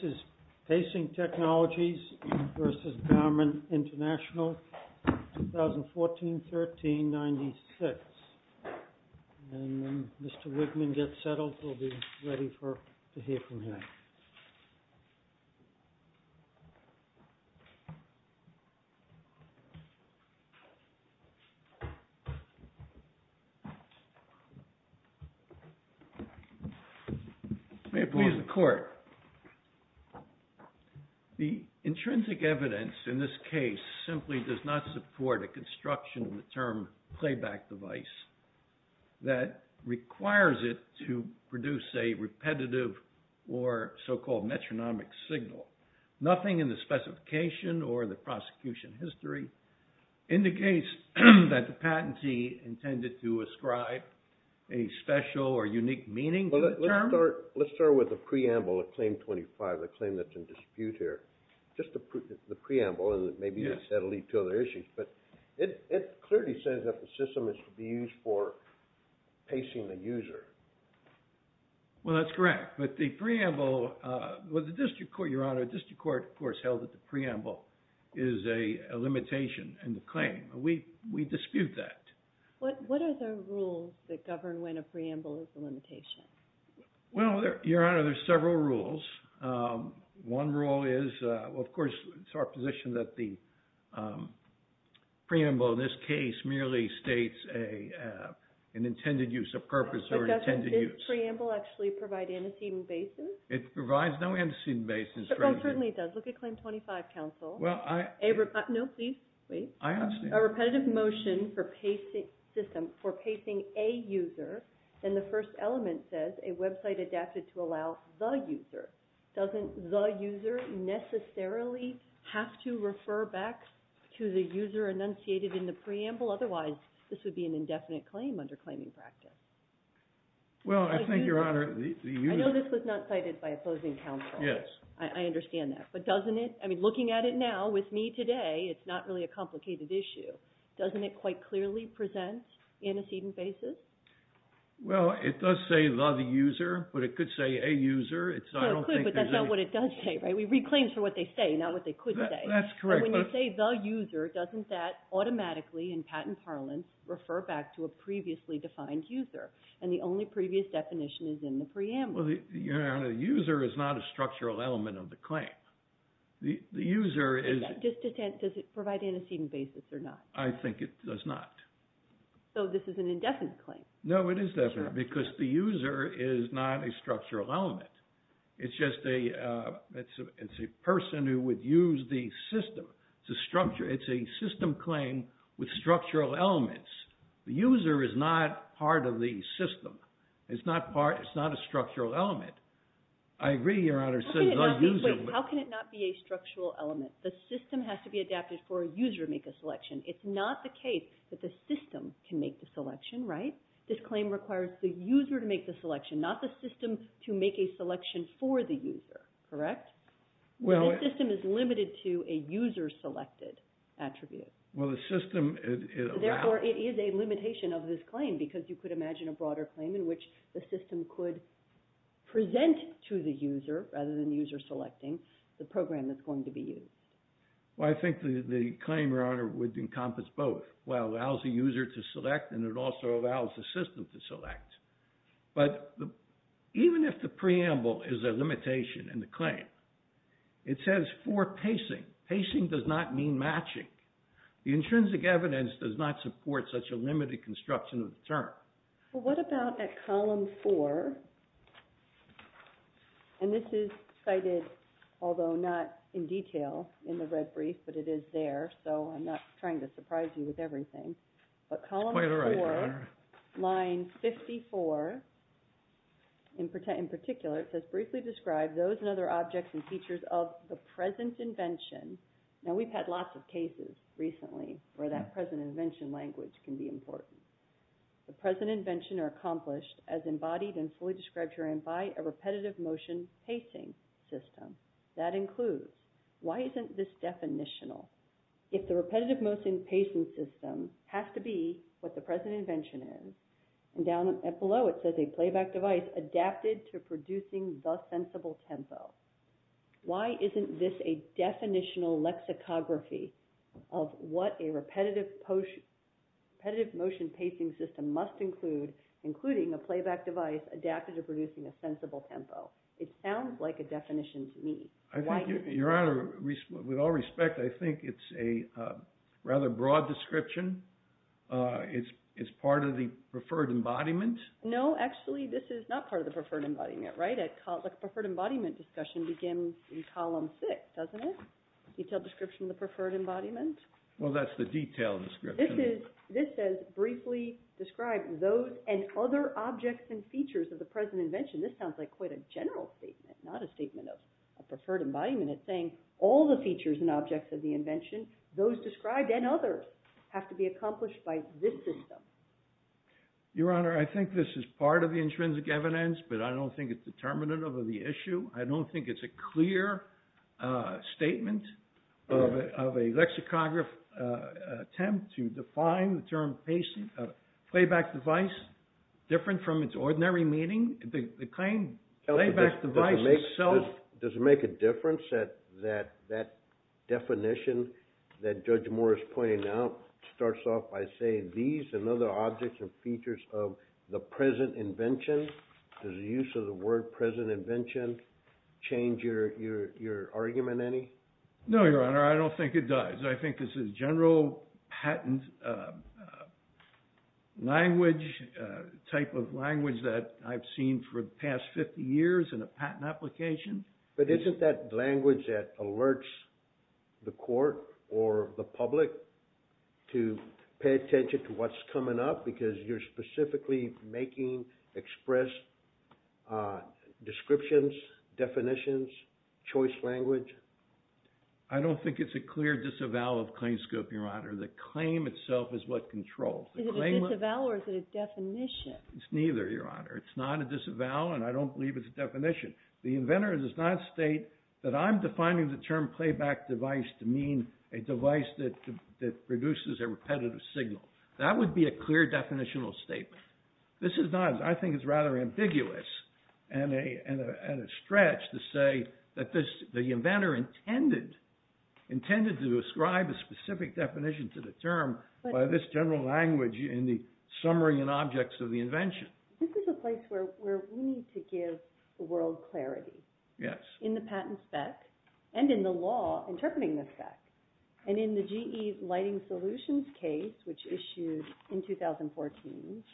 This is Pacing Technologies v. Germin International, 2014-13-96. And when Mr. Wigman gets settled, we'll be ready to hear from him. May it please the Court. The intrinsic evidence in this case simply does not support a construction of the term playback device that requires it to produce a repetitive or so-called metronomic signal. Nothing in the specification or the prosecution history indicates that the patentee intended to ascribe a special or unique meaning to the term. Let's start with the preamble of Claim 25, the claim that's in dispute here. Just the preamble, and maybe that'll lead to other issues. But it clearly says that the system is to be used for pacing the user. Well, that's correct. But the preamble, with the district court, Your Honor, the district court, of course, held that the preamble is a limitation in the claim. We dispute that. What are the rules that govern when a preamble is a limitation? Well, Your Honor, there's several rules. One rule is, of course, it's our position that the preamble in this case merely states an intended use, a purpose or intended use. But doesn't this preamble actually provide antecedent basis? It provides no antecedent basis. It certainly does. Look at Claim 25, counsel. Well, I... No, please, wait. I understand. A repetitive motion for pacing a user, and the first element says a website adapted to allow the user. Doesn't the user necessarily have to refer back to the user enunciated in the preamble? Otherwise, this would be an indefinite claim under claiming practice. Well, I think, Your Honor, the user... I know this was not cited by opposing counsel. Yes. I understand that. But doesn't it... I mean, looking at it now, with me today, it's not really a complicated issue. Doesn't it quite clearly present antecedent basis? Well, it does say the user, but it could say a user. It's... I don't think there's any... Well, it could, but that's not what it does say, right? We read claims for what they say, not what they could say. That's correct. But when they say the user, doesn't that automatically, in patent parlance, refer back to a previously defined user? And the only previous definition is in the preamble. Well, Your Honor, the user is not a structural element of the claim. The user is... Does it provide antecedent basis or not? I think it does not. So this is an indefinite claim. No, it is definite, because the user is not a structural element. It's just a... It's a person who would use the system to structure. It's a system claim with structural elements. The user is not part of the system. It's not part... It's not a structural element. I agree, Your Honor, so the user... How can it not be a structural element? The system has to be adapted for a user to make a selection. It's not the case that the system can make the selection, right? This claim requires the user to make the selection, not the system to make a selection for the user, correct? Well, the system is limited to a user-selected attribute. Well, the system... Therefore, it is a limitation of this claim, because you could imagine a broader claim in which the system could present to the user, rather than user-selecting, the program that's going to be used. Well, I think the claim, Your Honor, would encompass both. Well, it allows the user to select, and it also allows the system to select. But even if the preamble is a limitation in the claim, it says for pacing. Pacing does not mean matching. The intrinsic evidence does not support such a limited construction of the term. Well, what about at column four? And this is cited, although not in detail, in the red brief, but it is there, so I'm not trying to surprise you with everything. But column four, line 54, in particular, it says, briefly describe those and other objects and features of the present invention. Now, we've had lots of cases recently where that present invention language can be important. The present invention are accomplished as embodied and fully described herein by a repetitive motion pacing system. That includes, why isn't this definitional? If the repetitive motion pacing system has to be what the present invention is, and down below it says a playback device adapted to producing the sensible tempo, why isn't this a definitional lexicography of what a repetitive motion pacing system must include, including a playback device adapted to producing a sensible tempo? It sounds like a definition to me. I think, Your Honor, with all respect, I think it's a rather broad description. It's part of the preferred embodiment? No, actually, this is not part of the preferred embodiment, right? A preferred embodiment discussion begins in column six, doesn't it? Detailed description of the preferred embodiment? Well, that's the detailed description. This says, briefly described, those and other objects and features of the present invention. This sounds like quite a general statement, not a statement of a preferred embodiment. It's saying all the features and objects of the invention, those described and others, have to be accomplished by this system. Your Honor, I think this is part of the intrinsic evidence, but I don't think it's determinative of the issue. I don't think it's a clear statement of a lexicograph attempt to define the term playback device, different from its ordinary meaning. The claim, playback device itself... Does it make a difference that that definition that Judge Moore is pointing out starts off by saying these and other objects and features of the present invention? Does the use of the word present invention change your argument any? No, Your Honor, I don't think it does. I think this is general patent language, type of language that I've seen for the past 50 years in a patent application. But isn't that language that alerts the court or the public to pay attention to what's coming up? Because you're specifically making expressed descriptions, definitions, choice language. I don't think it's a clear disavowal of claims scope, Your Honor. The claim itself is what controls. Is it a disavowal or is it a definition? It's neither, Your Honor. It's not a disavowal and I don't believe it's a definition. The inventor does not state that I'm defining the term playback device to mean a device that produces a repetitive signal. That would be a clear definitional statement. This is not, I think it's rather ambiguous and a stretch to say that the inventor intended to ascribe a specific definition to the term by this general language in the summary and objects of the invention. This is a place where we need to give the world clarity in the patent spec and in the law interpreting the spec. And in the GE Lighting Solutions case, which issued in 2014,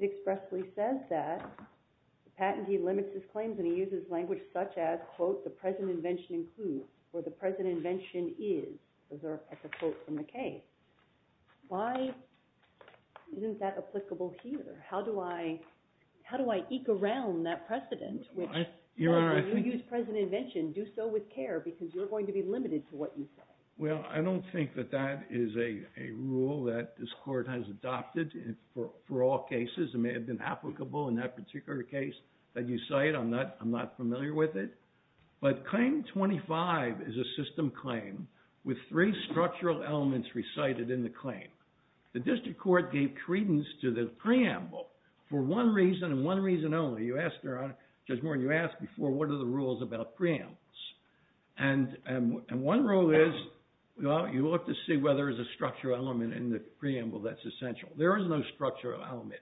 it expressly says that the patentee limits his claims and he uses language such as, quote, the present invention includes or the present invention is, as a quote from the case. Why isn't that applicable here? How do I eke around that precedent? Why did you use present invention? Do so with care because you're going to be limited to what you say. Well, I don't think that that is a rule that this court has adopted for all cases. It may have been applicable in that particular case that you cite. I'm not familiar with it. But claim 25 is a system claim with three structural elements recited in the claim. The district court gave credence to the preamble for one reason and one reason only. You asked, Judge Moore, you asked before, what are the rules about preambles? And one rule is, you ought to see whether there's a structural element in the preamble that's essential. There is no structural element.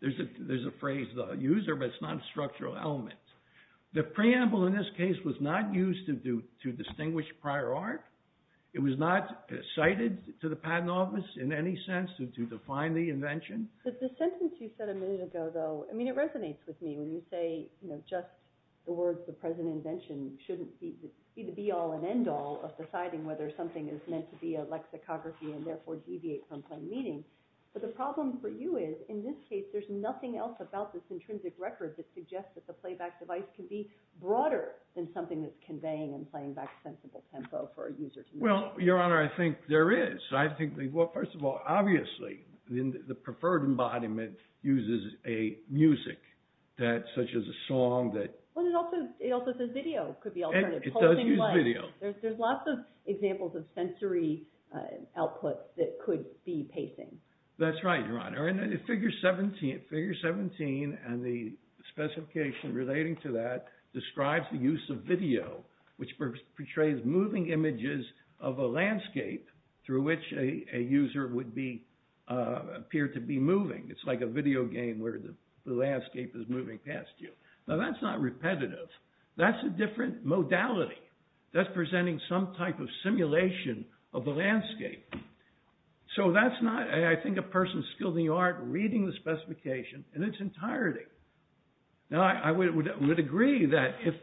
There's a phrase, the user, but it's not a structural element. The preamble in this case was not used to distinguish prior art. It was not cited to the patent office in any sense to define the invention. But the sentence you said a minute ago, though, I mean, it resonates with me when you say, you know, just the words the present invention shouldn't be the be all and end all of deciding whether something is meant to be a lexicography and therefore deviate from plain meaning. But the problem for you is, in this case, there's nothing else about this intrinsic record that suggests that the playback device can be broader than something that's conveying and playing back sensible tempo for a user. Well, Your Honor, I think there is. I think, well, first of all, obviously, the preferred embodiment uses a music that such as a song that. Well, it also says video could be alternative. It does use video. There's lots of examples of sensory output that could be pacing. That's right, Your Honor. Figure 17 and the specification relating to that describes the use of video, which portrays moving images of a landscape through which a user would appear to be moving. It's like a video game where the landscape is moving past you. Now, that's not repetitive. That's a different modality. That's presenting some type of simulation of the landscape. So that's not, I think, a person skilled in the art reading the specification in its entirety. Now, I would agree that if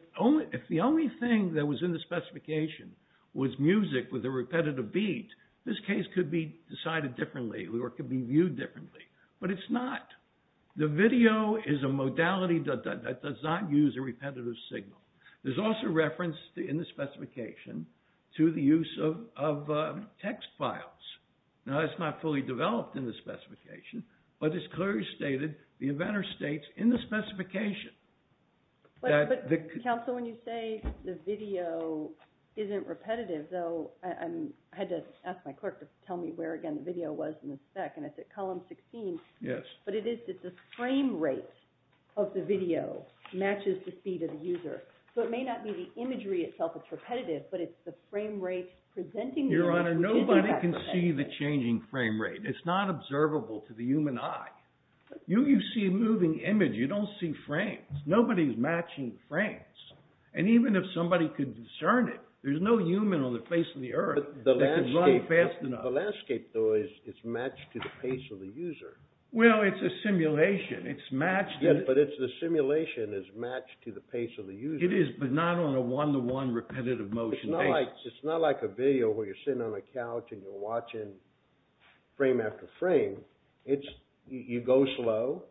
the only thing that was in the specification was music with a repetitive beat, this case could be decided differently or could be viewed differently. But it's not. The video is a modality that does not use a repetitive signal. There's also reference in the specification to the use of text files. Now, that's not fully developed in the specification, but it's clearly stated, the inventor states in the specification that the... Counsel, when you say the video isn't repetitive, though, I had to ask my clerk to tell me where, again, the video was in the spec, and it's at column 16. Yes. But it is that the frame rate of the video matches the speed of the user. So it may not be the imagery itself that's repetitive, but it's the frame rate presenting... Your Honor, nobody can see the changing frame rate. It's not observable to the human eye. You see a moving image. You don't see frames. Nobody's matching frames. And even if somebody could discern it, there's no human on the face of the earth that could run fast enough. The landscape, though, is matched to the pace of the user. Well, it's a simulation. It's matched... Yes, but it's the simulation is matched to the pace of the user. It is, but not on a one-to-one repetitive motion. It's not like a video where you're sitting on a couch and you're watching frame after frame. It's, you go slow,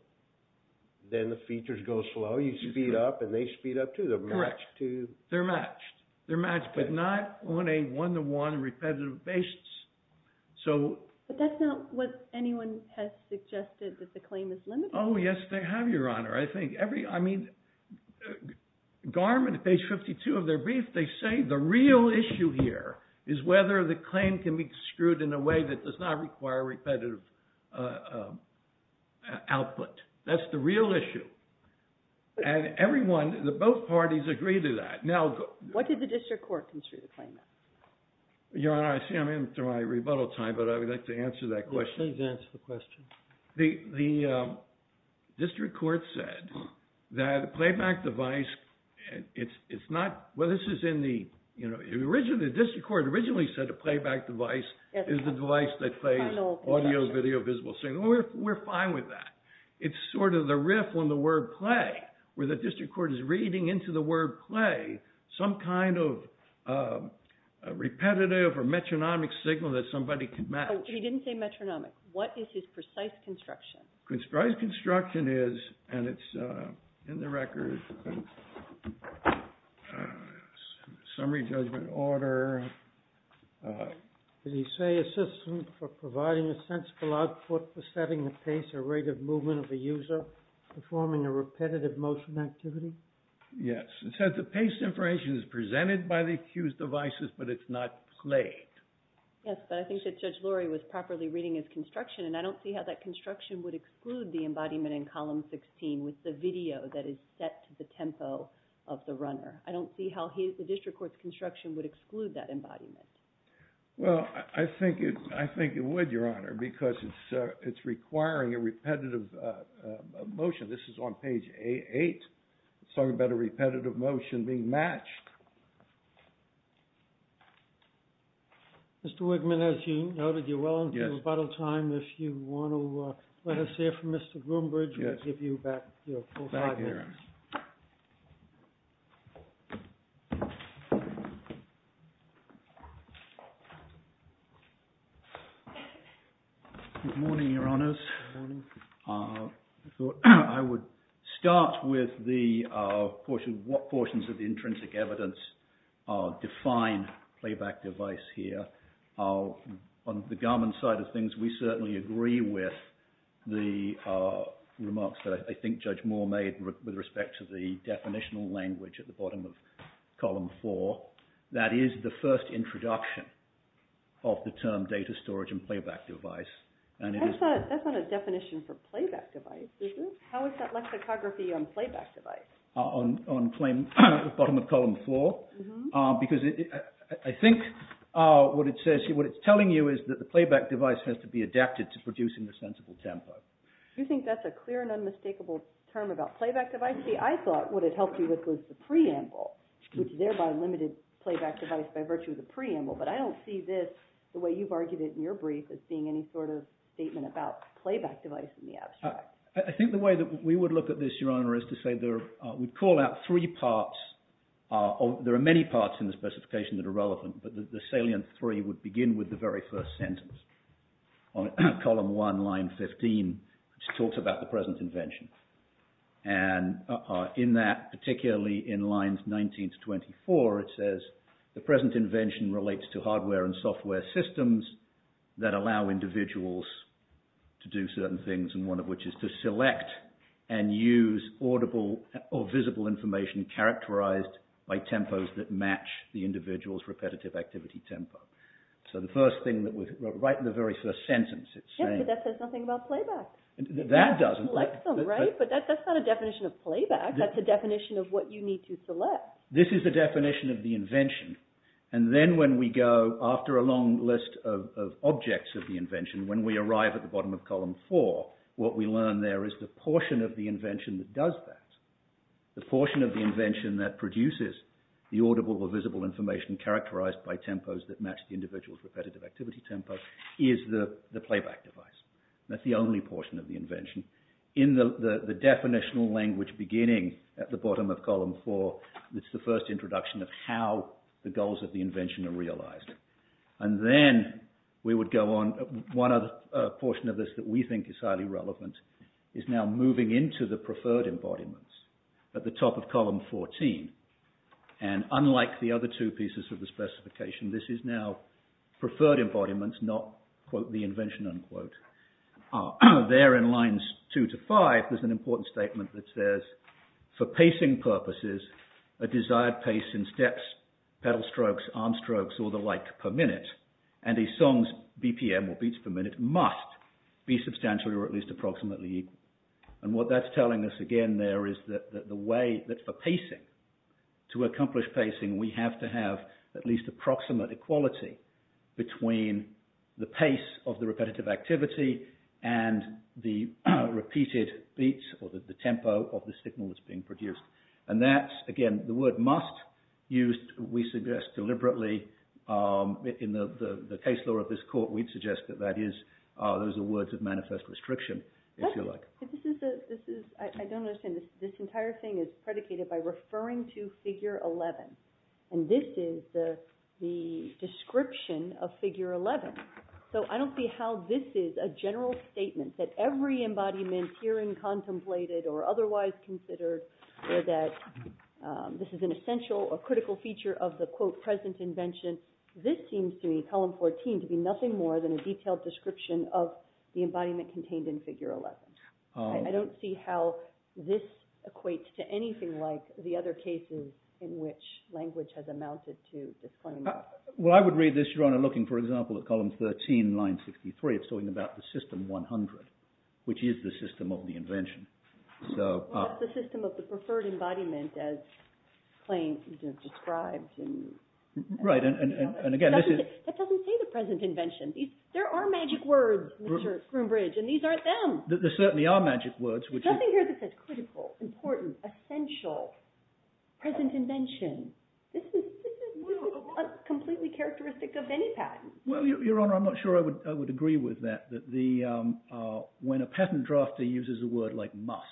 then the features go slow. You speed up, and they speed up, too. They're matched to... They're matched. They're matched, but not on a one-to-one repetitive basis. But that's not what anyone has suggested, that the claim is limited. Oh, yes, they have, Your Honor. I think every... I mean, GARM, on page 52 of their brief, they say the real issue here is whether the claim can be screwed in a way that does not require repetitive output. That's the real issue. And everyone, both parties agree to that. Now... What did the district court construe the claim as? Your Honor, I see I'm into my rebuttal time, but I would like to answer that question. Please answer the question. The district court said that a playback device, it's not... Well, this is in the... You know, the district court originally said a playback device is a device that plays audio, video, visible signal. We're fine with that. It's sort of the riff on the word play, where the district court is reading into the word play some kind of repetitive or metronomic signal that somebody can match. He didn't say metronomic. What is his precise construction? Precise construction is, and it's in the record, summary judgment order... Did he say a system for providing a sensible output for setting the pace or rate of movement of a user performing a repetitive motion activity? Yes. It says the pace information is presented by the accused devices, but it's not played. Yes, but I think that Judge Lurie was properly reading his construction, and I don't see how that construction would exclude the embodiment in column 16 with the video that is set to the tempo of the runner. I don't see how the district court's construction would exclude that embodiment. Well, I think it would, Your Honor, because it's requiring a repetitive motion. This is on page A8. It's talking about a repetitive motion being matched. Mr. Wigman, as you noted, you're well into rebuttal time. If you want to let us hear from Mr. Groombridge, we'll give you your full five minutes. Good morning, Your Honors. I thought I would start with what portions of the intrinsic evidence define playback device here. On the Garman side of things, we certainly agree with the remarks that I think Judge Moore made with respect to the definitional language at the bottom of column four. That is the first introduction of the term data storage and playback device. That's not a definition for playback device, is it? How is that lexicography on playback device? On bottom of column four, because I think what it's telling you is that the playback device has to be adapted to produce in a sensible tempo. You think that's a clear and unmistakable term about playback device? See, I thought what it helped you with was the preamble, which thereby limited playback device by virtue of the preamble, but I don't see this, the way you've argued it in your statement about playback device in the abstract. I think the way that we would look at this, Your Honor, is to say we'd call out three parts. There are many parts in the specification that are relevant, but the salient three would begin with the very first sentence on column one, line 15, which talks about the present invention. And in that, particularly in lines 19 to 24, it says, the present invention relates to to do certain things, and one of which is to select and use audible or visible information characterized by tempos that match the individual's repetitive activity tempo. So the first thing that was right in the very first sentence, it's saying… Yes, but that says nothing about playback. That doesn't. It selects them, right? But that's not a definition of playback. That's a definition of what you need to select. This is the definition of the invention, and then when we go after a long list of objects of the invention, when we arrive at the bottom of column four, what we learn there is the portion of the invention that does that, the portion of the invention that produces the audible or visible information characterized by tempos that match the individual's repetitive activity tempo, is the playback device. That's the only portion of the invention. In the definitional language beginning at the bottom of column four, it's the first introduction of how the goals of the invention are realized. And then we would go on. One other portion of this that we think is highly relevant is now moving into the preferred embodiments at the top of column 14. And unlike the other two pieces of the specification, this is now preferred embodiments, not, quote, the invention, unquote. There in lines two to five, there's an important statement that says, for pacing purposes, a desired pace in steps, pedal strokes, arm strokes, or the like per minute, and a song's BPM, or beats per minute, must be substantially or at least approximately equal. And what that's telling us, again, there is that the way that for pacing, to accomplish pacing, we have to have at least approximate equality between the pace of the repetitive activity and the repeated beats or the tempo of the signal that's being produced. And that's, again, the word must used, we suggest, deliberately. In the case law of this court, we'd suggest that that is, those are words of manifest restriction, if you like. I don't understand. This entire thing is predicated by referring to figure 11. And this is the description of figure 11. So I don't see how this is a general statement, that every embodiment herein contemplated or otherwise considered, or that this is an essential or critical feature of the, quote, present invention. This seems to me, column 14, to be nothing more than a detailed description of the embodiment contained in figure 11. I don't see how this equates to anything like the other cases in which language has amounted to this claim. Well, I would read this, Your Honor, looking, for example, at column 13, line 63. Well, it's the system of the preferred embodiment, as Claint described. Right, and again, this is- That doesn't say the present invention. There are magic words, Mr. Groombridge, and these aren't them. There certainly are magic words, which is- There's nothing here that says critical, important, essential, present invention. This is completely characteristic of any patent. Well, Your Honor, I'm not sure I would agree with that, that the, when a patent drafter uses a word like must.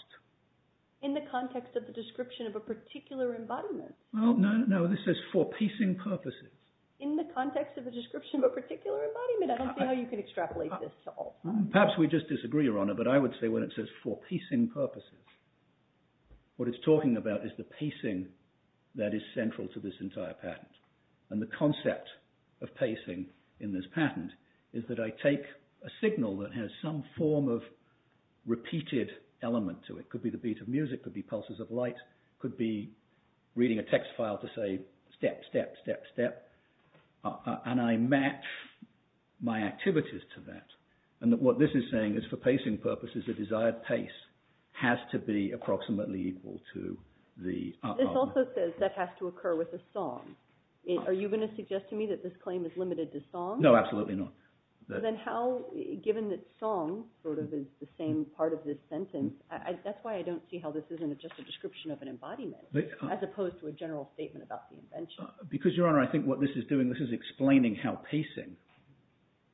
In the context of the description of a particular embodiment. Well, no, this says for pacing purposes. In the context of the description of a particular embodiment. I don't see how you could extrapolate this at all. Perhaps we just disagree, Your Honor, but I would say when it says for pacing purposes, what it's talking about is the pacing that is central to this entire patent. And the concept of pacing in this patent is that I take a signal that has some form of repeated element to it. Could be the beat of music, could be pulses of light, could be reading a text file to say step, step, step, step, and I match my activities to that. And what this is saying is for pacing purposes, the desired pace has to be approximately equal to the- This also says that has to occur with a song. Are you going to suggest to me that this claim is limited to song? No, absolutely not. Then how, given that song sort of is the same part of this sentence, that's why I don't see how this isn't just a description of an embodiment as opposed to a general statement about the invention. Because, Your Honor, I think what this is doing, this is explaining how pacing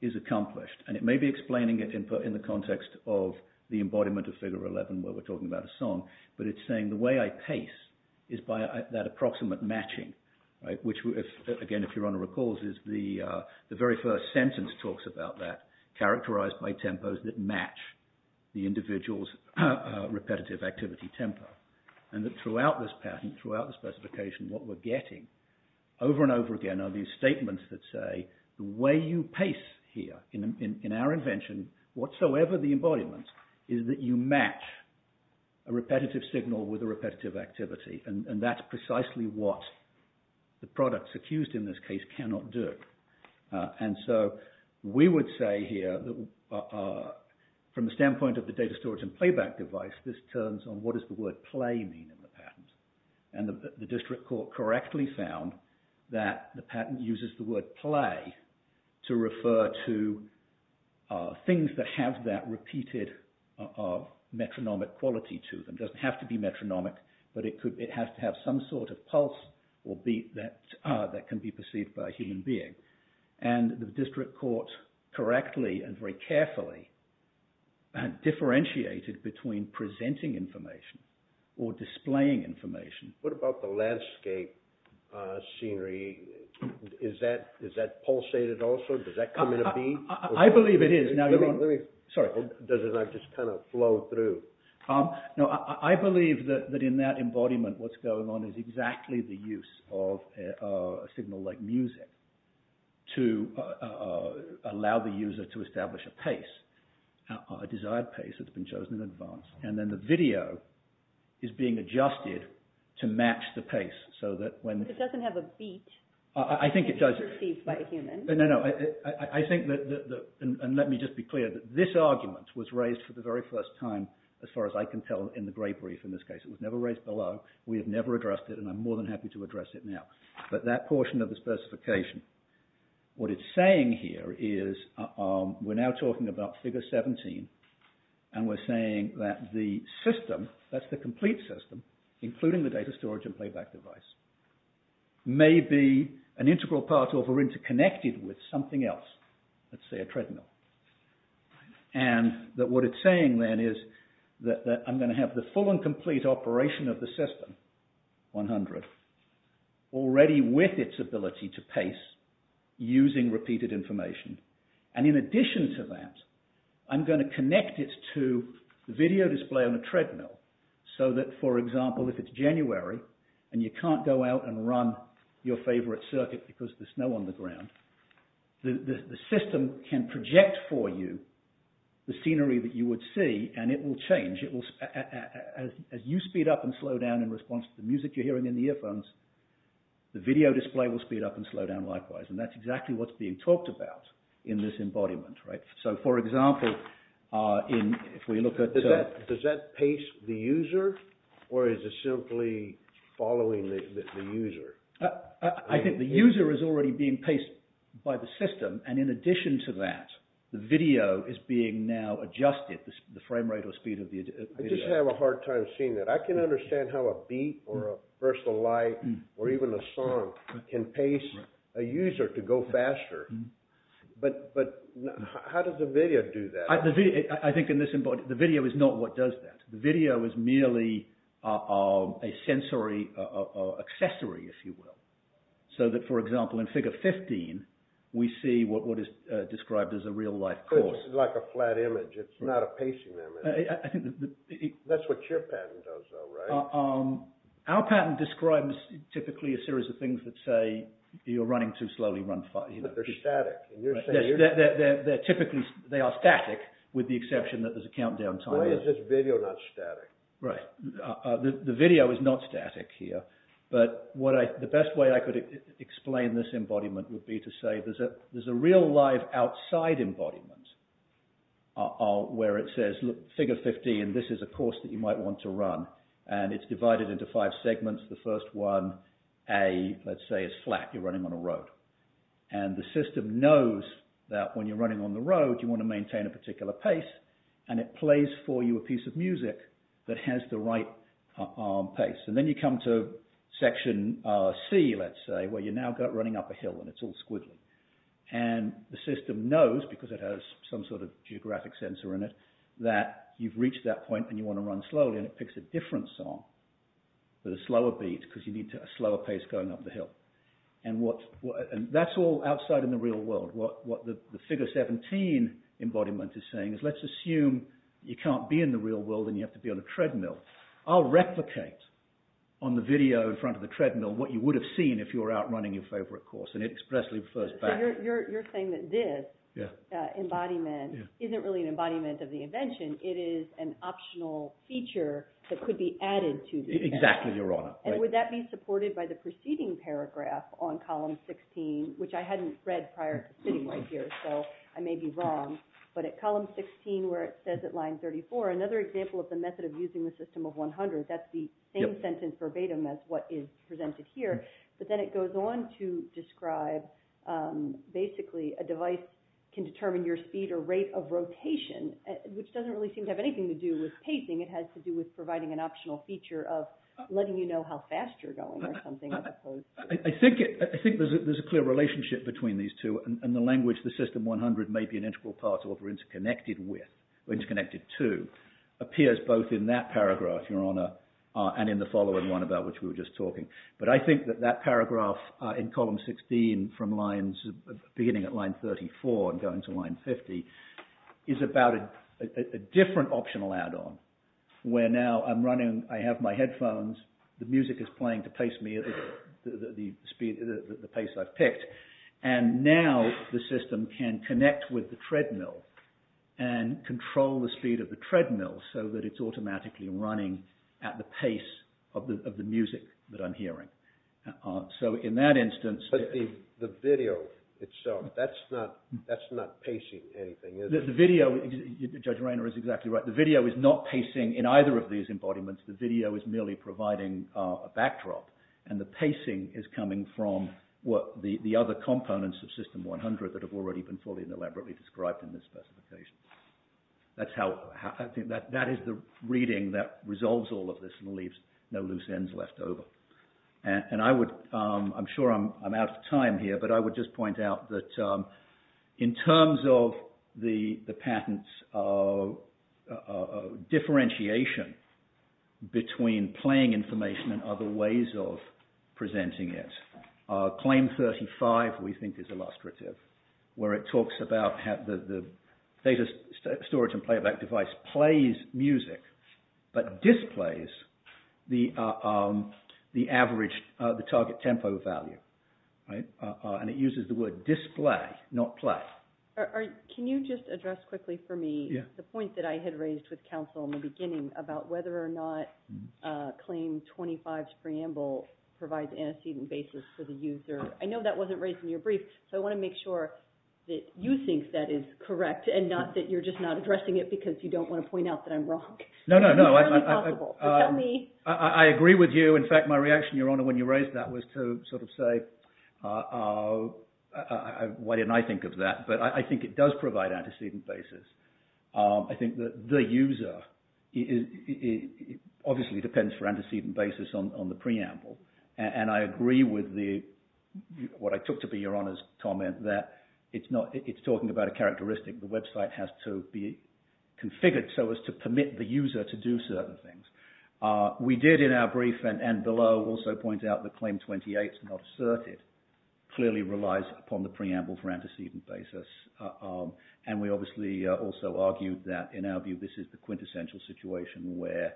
is accomplished. And it may be explaining it in the context of the embodiment of Figure 11 where we're talking about a song, but it's saying the way I pace is by that approximate matching, which, again, if Your Honor recalls, is the very first sentence talks about that, characterized by tempos that match the individual's repetitive activity tempo. And that throughout this patent, throughout the specification, what we're getting over and over again are these statements that say the way you pace here in our invention, whatsoever the embodiment, is that you match a repetitive signal with a repetitive activity. And that's precisely what the products accused in this case cannot do. And so we would say here that from the standpoint of the data storage and playback device, this turns on what does the word play mean in the patent. And the district court correctly found that the patent uses the word play to refer to things that have that repeated metronomic quality to them. It doesn't have to be metronomic, but it has to have some sort of pulse that can be perceived by a human being. And the district court correctly and very carefully differentiated between presenting information or displaying information. What about the landscape scenery? Is that pulsated also? Does that come in a B? I believe it is. Sorry. Does it not just kind of flow through? No, I believe that in that embodiment, what's going on is exactly the use of a signal like music to allow the user to establish a pace, a desired pace that's been chosen in advance. And then the video is being adjusted to match the pace so that when… It doesn't have a beat. I think it does. It can be perceived by a human. No, no, I think that, and let me just be clear, that this argument was raised for the very first time, as far as I can tell, in the gray brief in this case. It was never raised below. We have never addressed it, and I'm more than happy to address it now. But that portion of the specification, what it's saying here is we're now talking about figure 17, and we're saying that the system, that's the complete system, including the data storage and playback device, may be an integral part of or interconnected with something else, let's say a treadmill. And that what it's saying then is that I'm going to have the full and complete operation of the system, 100, already with its ability to pace using repeated information. And in addition to that, I'm going to connect it to the video display on a treadmill so that, for example, if it's January and you can't go out and run your favorite circuit because there's snow on the ground, the system can project for you the scenery that you would see, and it will change. It will, as you speed up and slow down in response to the music you're hearing in the earphones, the video display will speed up and slow down likewise. And that's exactly what's being talked about in this embodiment, right? So, for example, if we look at... Does that pace the user, or is it simply following the user? I think the user is already being paced by the system, and in addition to that, the video is being now adjusted, the frame rate or speed of the video. I just have a hard time seeing that. I can understand how a beat or a burst of light or even a song can pace a user to go faster, but how does the video do that? I think in this embodiment, the video is not what does that. The video is merely a sensory accessory, if you will, so that, for example, in figure 15, we see what is described as a real-life course. It's like a flat image. It's not a pacing image. That's what your patent does, though, right? Our patent describes, typically, a series of things that say you're running too slowly. They're static. They're typically... They are static, with the exception that there's a countdown timer. Why is this video not static? Right. The video is not static here, but the best way I could explain this embodiment would be to say there's a real-life outside embodiment where it says, look, figure 15, this is a course that you might want to run, and it's divided into five segments. The first one, A, let's say, is flat. You're running on a road, and the system knows that when you're running on the road, you know, it plays for you a piece of music that has the right pace. And then you come to section C, let's say, where you're now running up a hill, and it's all squiggly. And the system knows, because it has some sort of geographic sensor in it, that you've reached that point, and you want to run slowly, and it picks a different song with a slower beat, because you need a slower pace going up the hill. And that's all outside in the real world. What the figure 17 embodiment is saying is, let's assume you can't be in the real world, and you have to be on a treadmill. I'll replicate on the video in front of the treadmill what you would have seen if you were out running your favorite course. And it expressly refers back— So you're saying that this embodiment isn't really an embodiment of the invention. It is an optional feature that could be added to the— Exactly, Your Honor. And would that be supported by the preceding paragraph on column 16, which I hadn't read prior to sitting right here, so I may be wrong. But at column 16, where it says at line 34, another example of the method of using the system of 100, that's the same sentence verbatim as what is presented here. But then it goes on to describe, basically, a device can determine your speed or rate of rotation, which doesn't really seem to have anything to do with pacing. It has to do with providing an optional feature of letting you know how fast you're going or something, as opposed to— I think there's a clear relationship between these two, and the language, the system 100 may be an integral part of or interconnected with, or interconnected to, appears both in that paragraph, Your Honor, and in the following one about which we were just talking. But I think that that paragraph in column 16, beginning at line 34 and going to line 50, is about a different optional add-on, where now I'm running, I have my headphones, the music is playing to pace me at the pace I've picked, and now the system can connect with the treadmill and control the speed of the treadmill so that it's automatically running at the pace of the music that I'm hearing. So in that instance— But the video itself, that's not pacing anything, is it? The video, Judge Rainer is exactly right. The video is not pacing in either of these embodiments. The video is merely providing a backdrop, and the pacing is coming from the other components of system 100 that have already been fully and elaborately described in this specification. That's how—I think that is the reading that resolves all of this and leaves no loose ends left over. And I would—I'm sure I'm out of time here, but I would just point out that in terms of the patent's differentiation between playing information and other ways of presenting it, Claim 35 we think is illustrative, where it talks about how the data storage and playback device plays music but displays the average, the target tempo value. And it uses the word display, not play. Can you just address quickly for me the point that I had raised with counsel in the beginning about whether or not Claim 25's preamble provides antecedent basis for the user? I know that wasn't raised in your brief, so I want to make sure that you think that is correct and not that you're just not addressing it because you don't want to point out that I'm wrong. No, no, no. It's entirely possible, so tell me. I agree with you. In fact, my reaction, Your Honor, when you raised that was to sort of say, oh, why didn't I think of that? But I think it does provide antecedent basis. I think that the user, it obviously depends for antecedent basis on the preamble, and I agree with what I took to be Your Honor's comment that it's talking about a characteristic. The website has to be configured so as to permit the user to do certain things. We did in our brief and below also point out that Claim 28's not asserted clearly relies upon the preamble for antecedent basis, and we obviously also argued that in our view this is the quintessential situation where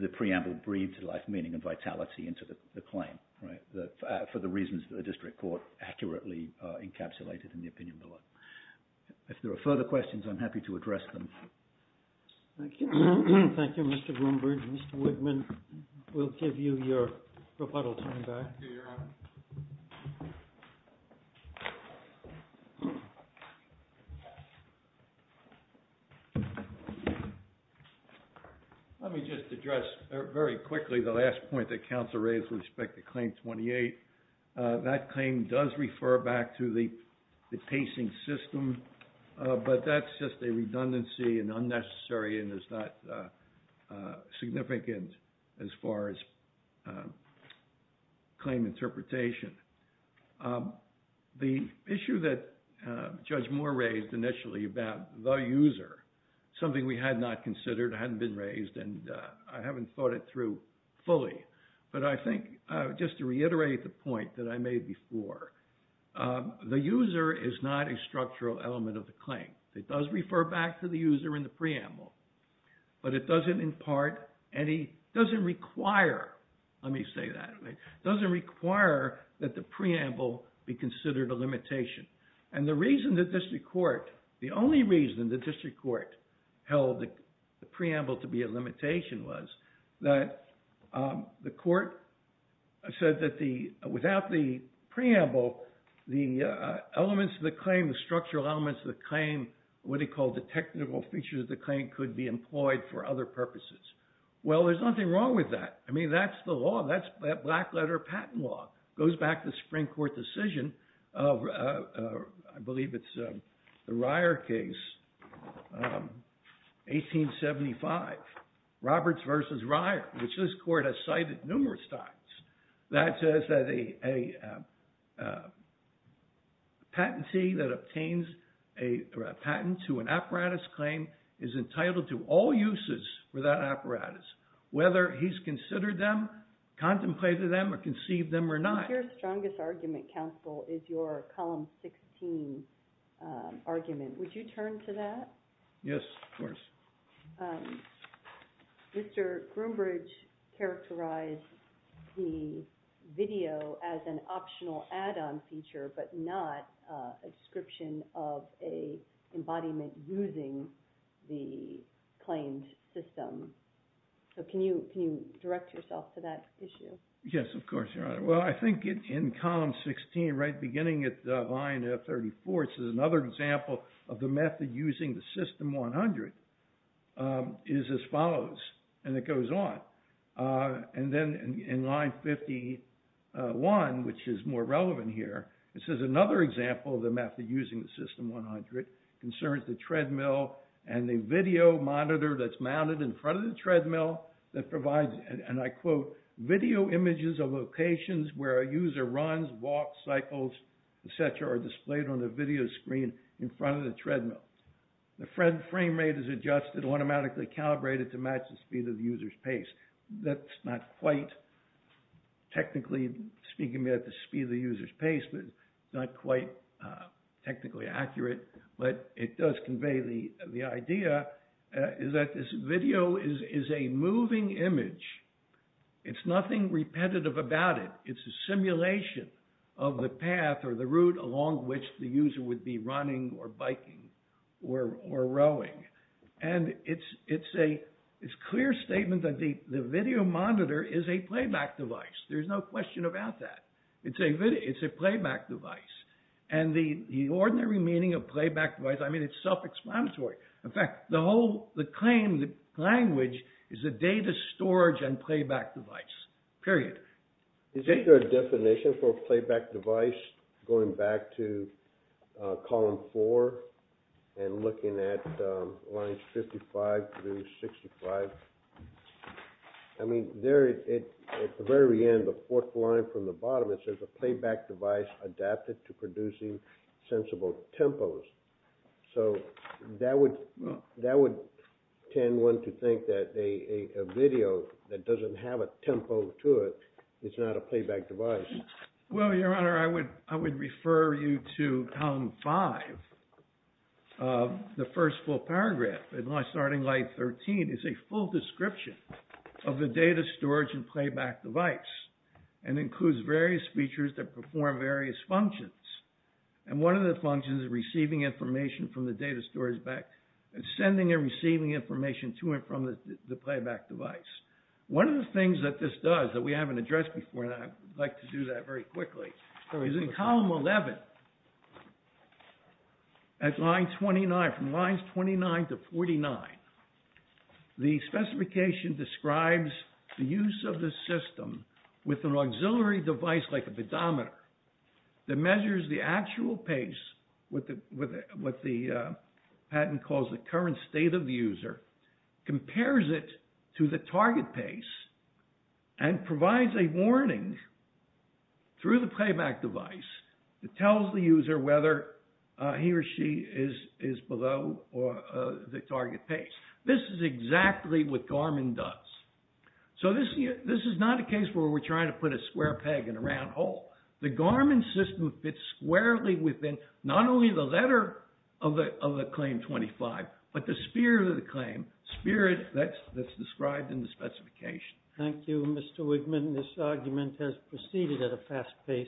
the preamble breathed life, meaning, and vitality into the claim, right, for the reasons that the district court accurately encapsulated in the opinion below. If there are further questions, I'm happy to address them. Thank you. Thank you, Mr. Bloomberg. Mr. Woodman, we'll give you your rebuttal time back. Let me just address very quickly the last point that counsel raised with respect to Claim 28. That claim does refer back to the pacing system, but that's just a redundancy and unnecessary and is not significant as far as claim interpretation. The issue that Judge Moore raised initially about the user, something we had not considered, hadn't been raised, and I haven't thought it through fully, but I think just to reiterate the point that I made before, the user is not a structural element of the claim. It does refer back to the user in the preamble, but it doesn't impart any, doesn't require, let me say that, doesn't require that the preamble be considered a limitation. And the reason the district court, the only reason the district court held the preamble to be a limitation was that the court said that without the preamble, the elements of the claim, the structural elements of the claim, what he called the technical features of the claim could be employed for other purposes. Well, there's nothing wrong with that. I mean, that's the law. That's black letter patent law. Goes back to the Supreme Court decision of, I believe it's the Ryer case, 1875, Roberts versus Ryer, which this court has cited numerous times. That says that a patentee that obtains a patent to an apparatus claim is entitled to all uses for that apparatus, whether he's considered them, contemplated them, or conceived them or not. I think your strongest argument, counsel, is your column 16 argument. Would you turn to that? Yes, of course. Mr. Groombridge characterized the video as an optional add-on feature, but not a description of an embodiment using the claimed system. So can you direct yourself to that issue? Yes, of course, Your Honor. Well, I think in column 16, right beginning at line 34, it says another example of the method using the system 100 is as follows, and it goes on. And then in line 51, which is more relevant here, it says another example of the method using the system 100 concerns the treadmill and the video monitor that's mounted in front of the treadmill that provides, and I quote, video images of locations where a user runs, walks, cycles, et cetera, are displayed on the video screen in front of the treadmill. The frame rate is adjusted automatically calibrated to match the speed of the user's pace. That's not quite technically speaking at the speed of the user's pace, but it's not quite technically accurate, but it does convey the idea that this video is a moving image. It's nothing repetitive about it. It's a simulation of the path or the route along which the user would be running or biking or rowing. And it's a clear statement that the video monitor is a playback device. There's no question about that. It's a playback device. And the ordinary meaning of playback device, I mean, it's self-explanatory. In fact, the whole, the claim, the language is a data storage and playback device, period. Is there a definition for a playback device going back to column four and looking at lines 55 through 65? I mean, there at the very end, the fourth line from the bottom, it says a playback device adapted to producing sensible tempos. So that would tend one to think that a video that doesn't have a tempo to it, it's not a playback device. Well, Your Honor, I would refer you to column five of the first full paragraph. And my starting line 13 is a full description of the data storage and playback device and includes various features that perform various functions. And one of the functions is receiving information from the data storage back and sending and receiving information to and from the playback device. One of the things that this does that we haven't addressed before, and I'd like to do that very quickly, is in column 11, at line 29, from lines 29 to 49, the specification describes the use of the system with an auxiliary device like a pedometer that measures the actual pace with what the patent calls the current state of the user, compares it to the target pace, and provides a warning through the playback device that tells the user whether he or she is below the target pace. This is exactly what Garmin does. So this is not a case where we're trying to put a square peg in a round hole. The Garmin system fits squarely within not only the letter of the claim 25, but the spirit of the claim, spirit that's described in the specification. Thank you, Mr. Wigman. This argument has proceeded at a fast pace.